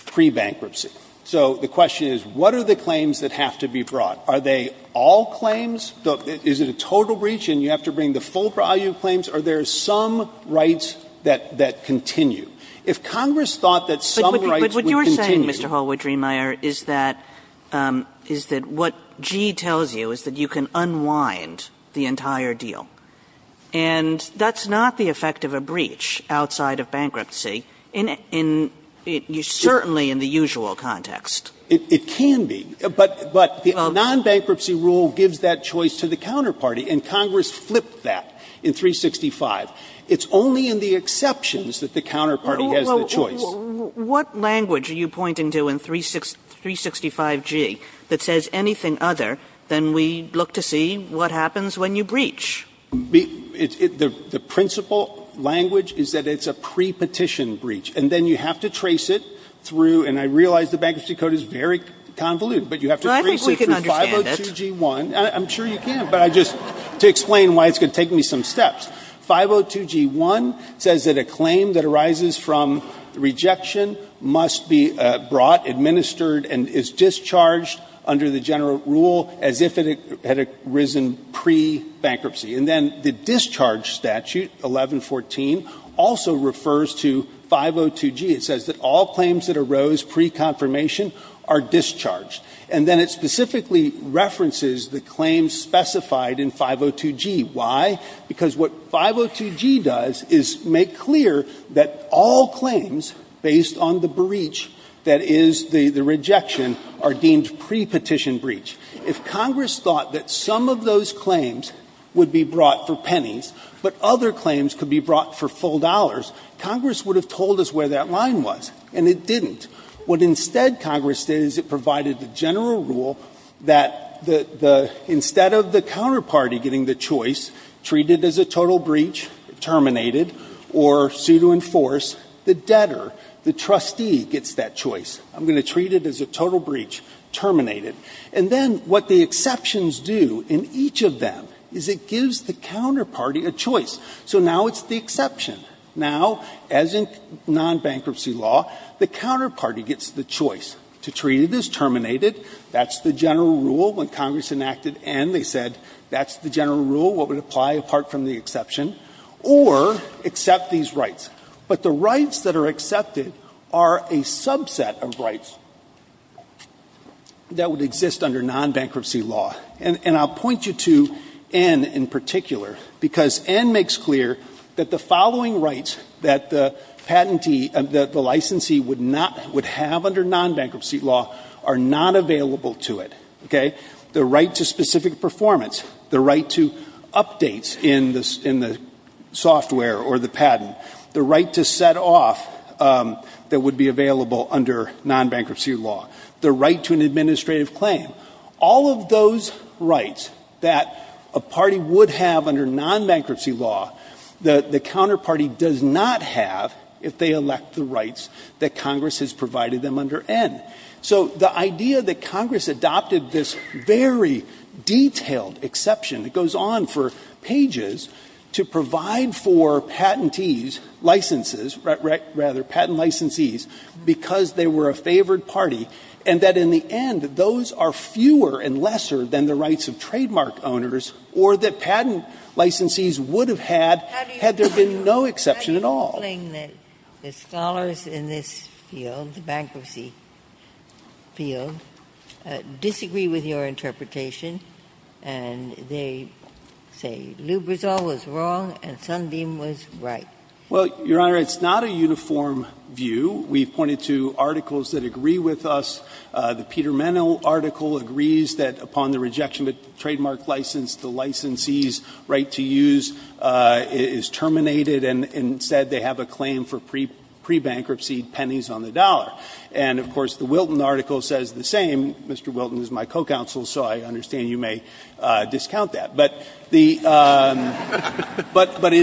pre-bankruptcy. So the question is, what are the claims that have to be brought? Are they all claims? Is it a total breach and you have to bring the full value claims? Are there some rights that continue? If Congress thought that some rights would continue. But what you're saying, Mr. Holwood-Driemeier, is that, is that what G tells you is that you can unwind the entire deal. And that's not the effect of a breach outside of bankruptcy in, certainly in the usual context. It can be. But the non-bankruptcy rule gives that choice to the counterparty. And Congress flipped that in 365. It's only in the exceptions that the counterparty has the choice. Kagan. What language are you pointing to in 365G that says anything other than we look to see what happens when you breach? The principal language is that it's a pre-petition breach. And then you have to trace it through. And I realize the Bankruptcy Code is very convoluted. But you have to trace it through 502G1. I'm sure you can. But I just, to explain why it's going to take me some steps. 502G1 says that a claim that arises from rejection must be brought, administered, and is discharged under the general rule as if it had arisen pre-bankruptcy. And then the discharge statute, 1114, also refers to 502G. It says that all claims that arose pre-confirmation are discharged. And then it specifically references the claims specified in 502G. Why? Because what 502G does is make clear that all claims, based on the breach that is the rejection, are deemed pre-petition breach. If Congress thought that some of those claims would be brought for pennies, but other claims could be brought for full dollars, Congress would have told us where that line was. And it didn't. What instead Congress did is it provided the general rule that the, instead of the counterparty getting the choice, treat it as a total breach, terminate it, or sue to enforce, the debtor, the trustee, gets that choice. I'm going to treat it as a total breach, terminate it. And then what the exceptions do in each of them is it gives the counterparty a choice. So now it's the exception. Now, as in non-bankruptcy law, the counterparty gets the choice to treat it as terminated, that's the general rule when Congress enacted N, they said that's the general rule, what would apply apart from the exception, or accept these rights. But the rights that are accepted are a subset of rights that would exist under non-bankruptcy law. And I'll point you to N in particular because N makes clear that the following rights that the patentee, the licensee would not, would have under non-bankruptcy law are not available to it, okay? The right to specific performance, the right to updates in the software or the patent, the right to set off that would be available under non-bankruptcy law, the right to an administrative claim. All of those rights that a party would have under non-bankruptcy law, the counterparty does not have if they elect the rights that Congress has provided them under N. So the idea that Congress adopted this very detailed exception that goes on for pages to provide for patentees, licenses, rather patent licensees, because they were a favored party, and that in the end those are fewer and lesser than the rights of trademark owners, or that patent licensees would have had, had there been no exception at all. Ginsburg. How do you explain that the scholars in this field, the bankruptcy field, disagree with your interpretation, and they say Lubrizol was wrong and Sundin was right? Well, Your Honor, it's not a uniform view. We've pointed to articles that agree with us. The Peter Menno article agrees that upon the rejection of a trademark license, the licensee's right to use is terminated, and instead they have a claim for pre-bankruptcy pennies on the dollar. And, of course, the Wilton article says the same. Mr. Wilton is my co-counsel, so I understand you may discount that. But it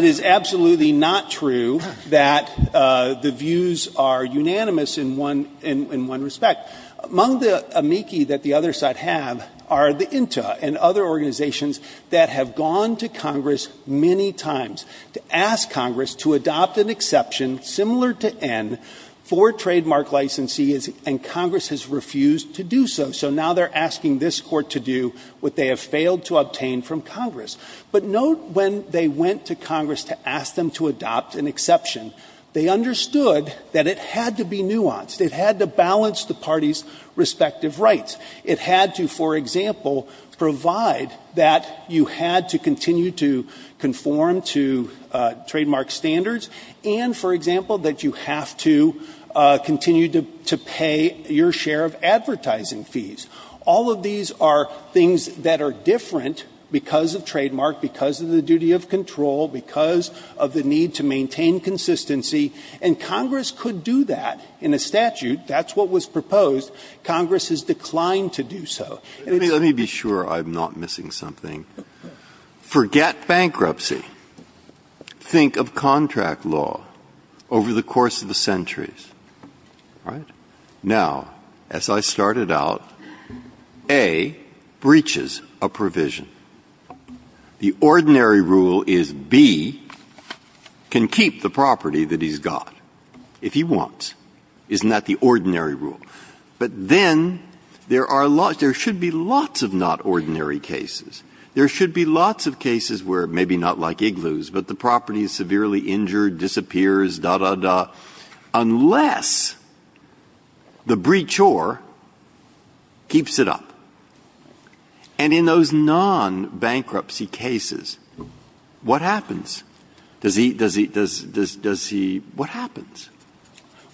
is absolutely not true that the views are unanimous in one respect. Among the amici that the other side have are the INTA and other organizations that have gone to Congress many times to ask Congress to adopt an exception, similar to N, for trademark licensees, and Congress has refused to do so. So now they're asking this Court to do what they have failed to obtain from Congress. But note when they went to Congress to ask them to adopt an exception, they understood that it had to be nuanced. It had to balance the parties' respective rights. It had to, for example, provide that you had to continue to conform to trademark standards and, for example, that you have to continue to pay your share of advertising fees. All of these are things that are different because of trademark, because of the duty of control, because of the need to maintain consistency, and Congress could do that in a statute. That's what was proposed. Congress has declined to do so. Breyer. Let me be sure I'm not missing something. Forget bankruptcy. Think of contract law over the course of the centuries. All right? Now, as I started out, A breaches a provision. The ordinary rule is B can keep the property that he's got if he wants. Isn't that the ordinary rule? But then there are lots of not ordinary cases. There should be lots of cases where maybe not like Igloos, but the property is severely injured, disappears, da, da, da, unless the breachor keeps it up. And in those non-bankruptcy cases, what happens? Does he, does he, does he, what happens?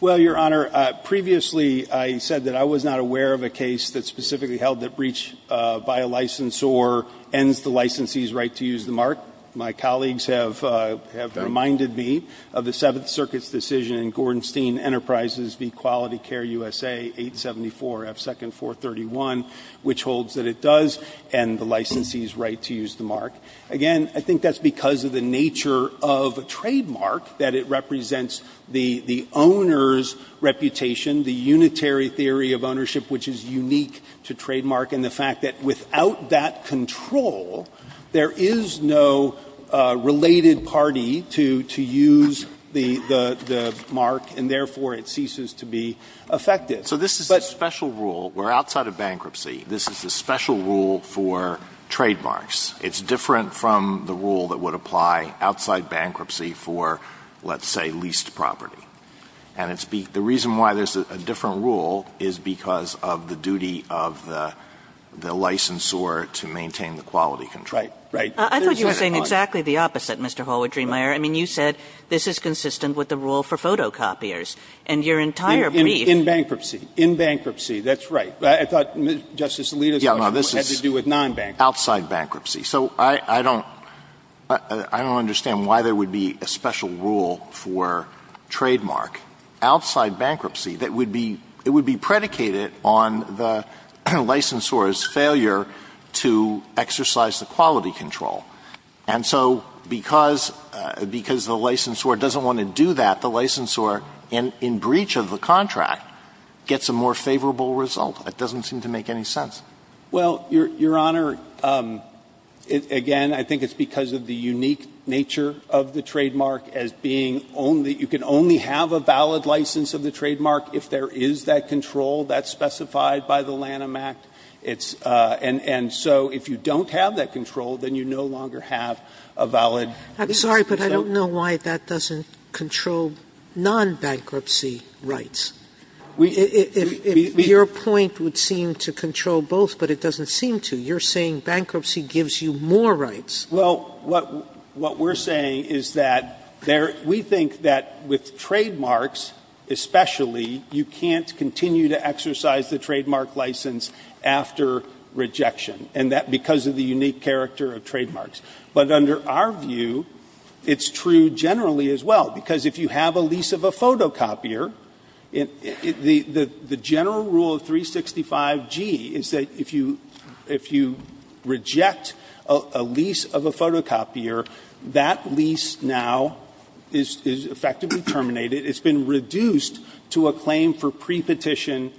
Well, Your Honor, previously I said that I was not aware of a case that specifically held that breach by a licensor ends the licensee's right to use the mark. My colleagues have, have reminded me of the Seventh Circuit's decision in Gordon Steen Enterprises v. Quality Care USA, 874 F2nd 431, which holds that it does end the licensee's right to use the mark. Again, I think that's because of the nature of trademark, that it represents the, the owner's reputation, the unitary theory of ownership, which is unique to trademark, and the fact that without that control, there is no related party to, to use the, the, the mark, and therefore it ceases to be effective. So this is a special rule. We're outside of bankruptcy. This is a special rule for trademarks. It's different from the rule that would apply outside bankruptcy for, let's say, leased property. And it's be, the reason why there's a, a different rule is because of the duty of the, the licensor to maintain the quality control. Right. Right. I thought you were saying exactly the opposite, Mr. Hallward-Driemeier. I mean, you said this is consistent with the rule for photocopiers, and your entire brief. In, in bankruptcy. In bankruptcy. That's right. I thought Justice Alito's question had to do with non-bankruptcy. Yeah, no, this is outside bankruptcy. So I, I don't, I don't understand why there would be a special rule for trademark outside bankruptcy that would be, it would be predicated on the licensor's failure to exercise the quality control. And so because, because the licensor doesn't want to do that, the licensor, in, in breach of the contract, gets a more favorable result. It doesn't seem to make any sense. Well, Your Honor, again, I think it's because of the unique nature of the trademark as being only, you can only have a valid license of the trademark if there is that control that's specified by the Lanham Act. It's, and, and so if you don't have that control, then you no longer have a valid I'm sorry, but I don't know why that doesn't control non-bankruptcy rights. Your point would seem to control both, but it doesn't seem to. You're saying bankruptcy gives you more rights. Well, what, what we're saying is that there, we think that with trademarks especially, you can't continue to exercise the trademark license after rejection and that because of the unique character of trademarks. But under our view, it's true generally as well, because if you have a lease of a photocopier, the, the general rule of 365G is that if you, if you reject a lease of a photocopier, that lease now is, is effectively terminated. It's been reduced to a claim for pre-petition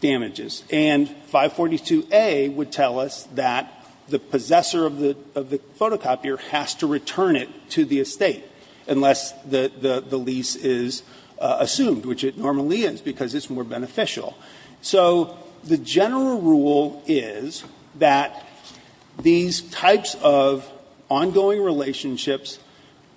damages. And 542A would tell us that the possessor of the, of the photocopier has to return it to the estate unless the, the lease is assumed, which it normally is because it's more beneficial. So the general rule is that these types of ongoing relationships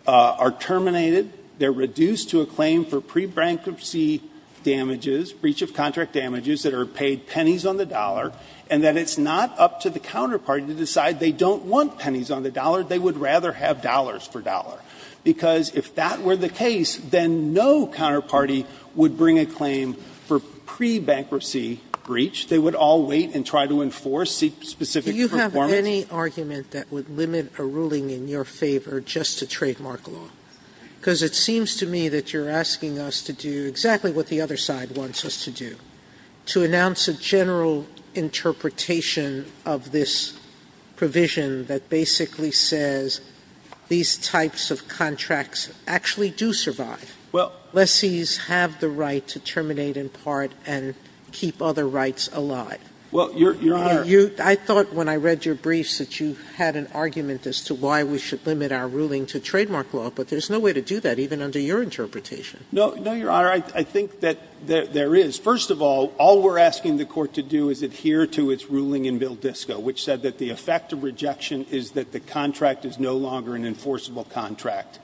are terminated. They're reduced to a claim for pre-brankruptcy damages, breach of contract damages that are paid pennies on the dollar, and that it's not up to the counterpart they would rather have dollars for dollar. Because if that were the case, then no counterparty would bring a claim for pre-bankruptcy breach. They would all wait and try to enforce specific performance. Sotomayor, do you have any argument that would limit a ruling in your favor just to trademark law? Because it seems to me that you're asking us to do exactly what the other side wants us to do, to announce a general interpretation of this provision that basically says these types of contracts actually do survive. Well. Unless these have the right to terminate in part and keep other rights alive. Well, Your Honor. I thought when I read your briefs that you had an argument as to why we should limit our ruling to trademark law, but there's no way to do that even under your interpretation. No, no, Your Honor. I think that there is. First of all, all we're asking the court to do is adhere to its ruling in Bill Disco, which said that the effect of rejection is that the contract is no longer an enforceable contract.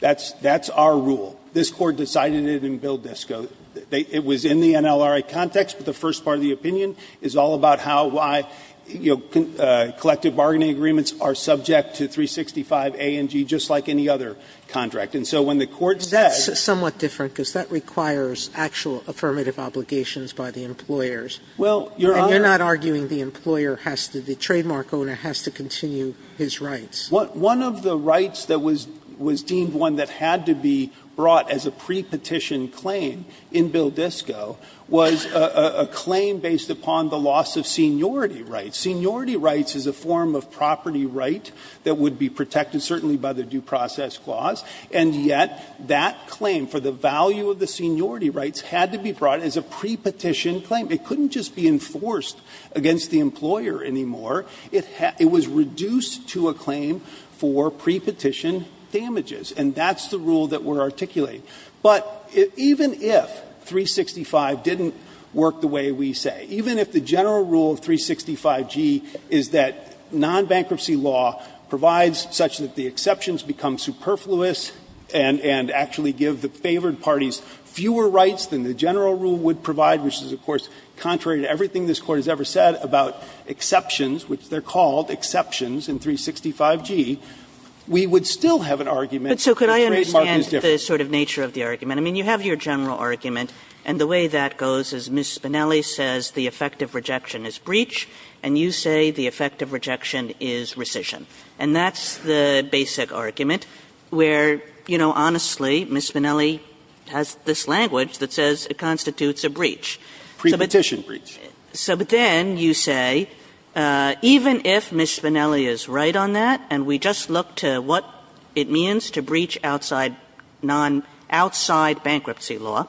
That's our rule. This Court decided it in Bill Disco. It was in the NLRA context, but the first part of the opinion is all about how, why collective bargaining agreements are subject to 365 A and G, just like any other contract. And so when the Court said. That's somewhat different, because that requires actual affirmative obligations by the employers. Well, Your Honor. We're not arguing the employer has to, the trademark owner has to continue his rights. One of the rights that was deemed one that had to be brought as a pre-petition claim in Bill Disco was a claim based upon the loss of seniority rights. Seniority rights is a form of property right that would be protected, certainly by the Due Process Clause. And yet, that claim for the value of the seniority rights had to be brought as a pre-petition claim. It couldn't just be enforced against the employer anymore. It was reduced to a claim for pre-petition damages. And that's the rule that we're articulating. But even if 365 didn't work the way we say, even if the general rule of 365 G is that non-bankruptcy law provides such that the exceptions become superfluous and actually give the favored parties fewer rights than the general rule would provide, which is, of course, contrary to everything this Court has ever said about exceptions, which they're called exceptions in 365 G, we would still have an argument. Kagan. But so could I understand the sort of nature of the argument? I mean, you have your general argument, and the way that goes is Ms. Spinelli says the effect of rejection is breach, and you say the effect of rejection is rescission. And that's the basic argument where, you know, honestly, Ms. Spinelli has this language that says it constitutes a breach. Pre-petition breach. So but then you say, even if Ms. Spinelli is right on that and we just look to what it means to breach outside non-outside bankruptcy law,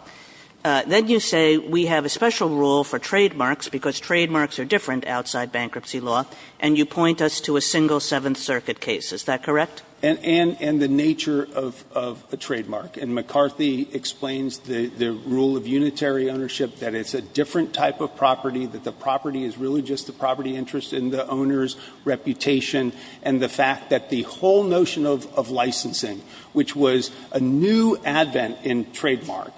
then you say we have a special rule for trademarks because trademarks are different outside bankruptcy law, and you have the same rule for the Fifth Circuit case. Is that correct? And the nature of a trademark. And McCarthy explains the rule of unitary ownership that it's a different type of property, that the property is really just the property interest in the owner's reputation, and the fact that the whole notion of licensing, which was a new advent in trademark,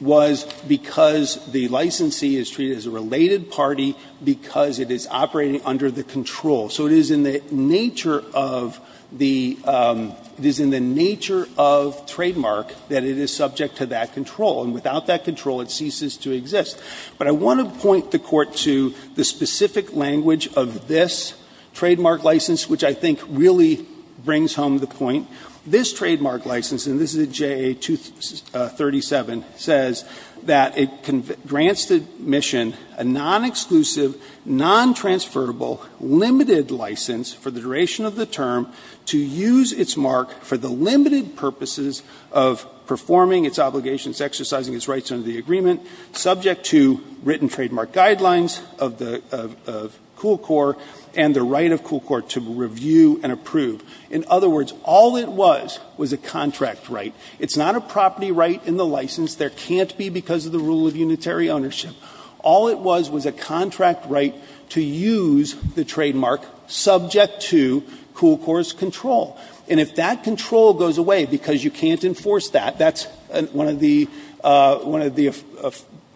was because the licensee is treated as a related party because it is operating under the control. So it is in the nature of the, it is in the nature of trademark that it is subject to that control, and without that control it ceases to exist. But I want to point the Court to the specific language of this trademark license, which I think really brings home the point. This trademark license, and this is a JA-237, says that it grants the mission a non-exclusive, non-transferable, limited license for the duration of the term to use its mark for the limited purposes of performing its obligations, exercising its rights under the agreement, subject to written trademark guidelines of the, of Cool Corps, and the right of Cool Corps to review and approve. In other words, all it was was a contract right. It's not a property right in the license. There can't be because of the rule of unitary ownership. All it was was a contract right to use the trademark subject to Cool Corps' control. And if that control goes away because you can't enforce that, that's one of the, one of the,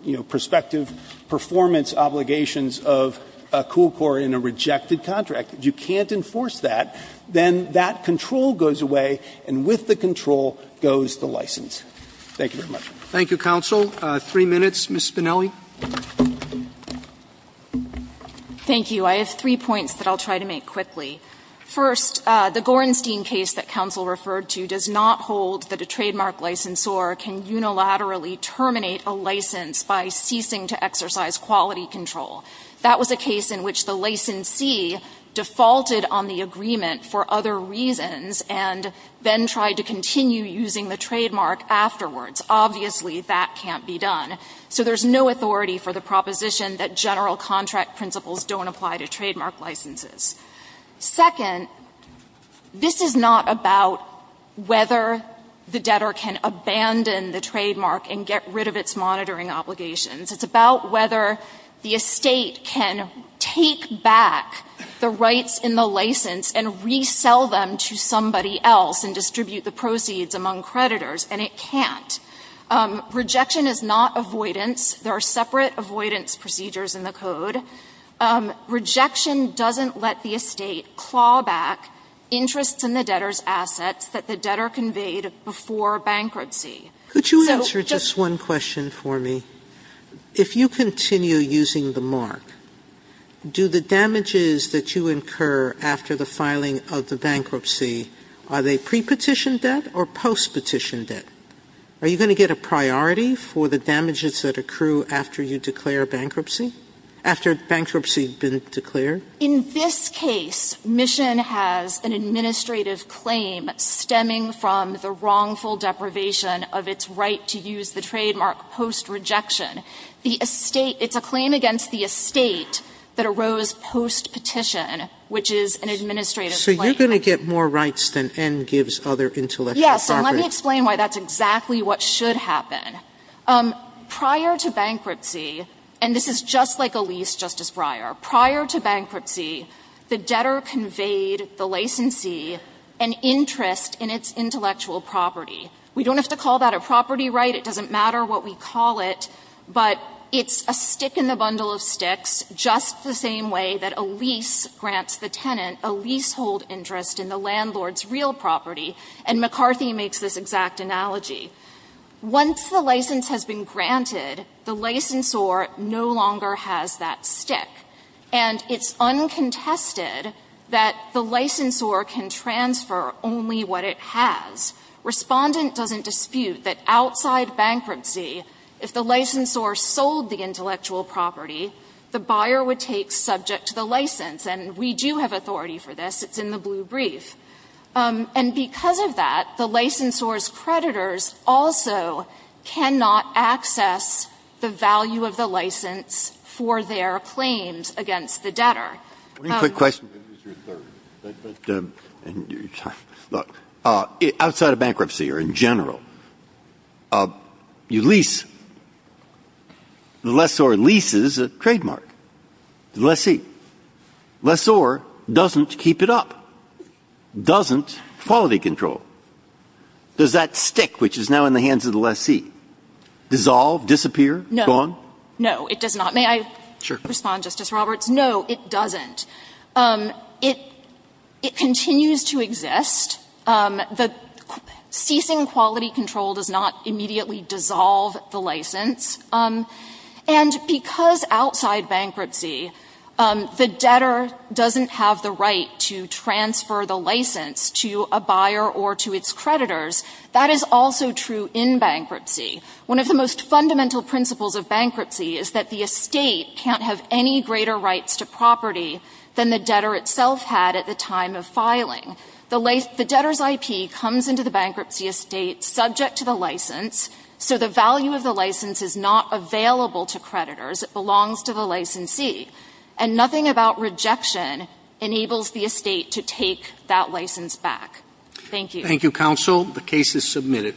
you know, prospective performance obligations of Cool Corps in a rejected contract. If you can't enforce that, then that control goes away, and with the control goes the license. Thank you very much. Thank you, Counsel. Three minutes. Ms. Spinelli. Thank you. I have three points that I'll try to make quickly. First, the Gorenstein case that Counsel referred to does not hold that a trademark licensor can unilaterally terminate a license by ceasing to exercise quality control. That was a case in which the licensee defaulted on the agreement for other reasons and then tried to continue using the trademark afterwards. Obviously, that can't be done. So there's no authority for the proposition that general contract principles don't apply to trademark licenses. Second, this is not about whether the debtor can abandon the trademark and get rid of its monitoring obligations. It's about whether the estate can take back the rights in the license and resell them to somebody else and distribute the proceeds among creditors, and it can't. Rejection is not avoidance. There are separate avoidance procedures in the code. Rejection doesn't let the estate claw back interests in the debtor's assets that the debtor conveyed before bankruptcy. Could you answer just one question for me? If you continue using the mark, do the damages that you incur after the filing of the bankruptcy, are they pre-petition debt or post-petition debt? Are you going to get a priority for the damages that accrue after you declare bankruptcy, after bankruptcy has been declared? In this case, Mission has an administrative claim stemming from the wrongful deprivation of its right to use the trademark post-rejection. The estate – it's a claim against the estate that arose post-petition, which is an administrative claim. So you're going to get more rights than N gives other intellectual property. Yes, and let me explain why that's exactly what should happen. Prior to bankruptcy, and this is just like a lease, Justice Breyer, prior to bankruptcy, the debtor conveyed the licensee an interest in its intellectual property. We don't have to call that a property right. It doesn't matter what we call it. But it's a stick in the bundle of sticks, just the same way that a lease grants the tenant a leasehold interest in the landlord's real property. And McCarthy makes this exact analogy. Once the license has been granted, the licensor no longer has that stick. And it's uncontested that the licensor can transfer only what it has. Respondent doesn't dispute that outside bankruptcy, if the licensor sold the intellectual property, the buyer would take subject to the license. And we do have authority for this. It's in the blue brief. And because of that, the licensor's creditors also cannot access the value of the license for their claims against the debtor. Breyer. One quick question. Outside of bankruptcy or in general, you lease. The lessor leases a trademark to the lessee. Lessor doesn't keep it up. Doesn't quality control. Does that stick, which is now in the hands of the lessee, dissolve, disappear? No. Gone? No, it does not. May I respond, Justice Roberts? No, it doesn't. It continues to exist. The ceasing quality control does not immediately dissolve the license. And because outside bankruptcy, the debtor doesn't have the right to transfer the license to a buyer or to its creditors, that is also true in bankruptcy. One of the most fundamental principles of bankruptcy is that the estate can't have any greater rights to property than the debtor itself had at the time of filing. The debtor's IP comes into the bankruptcy estate subject to the license, so the value of the license is not available to creditors. It belongs to the lessee. And nothing about rejection enables the estate to take that license back. Thank you. Thank you, counsel. The case is submitted.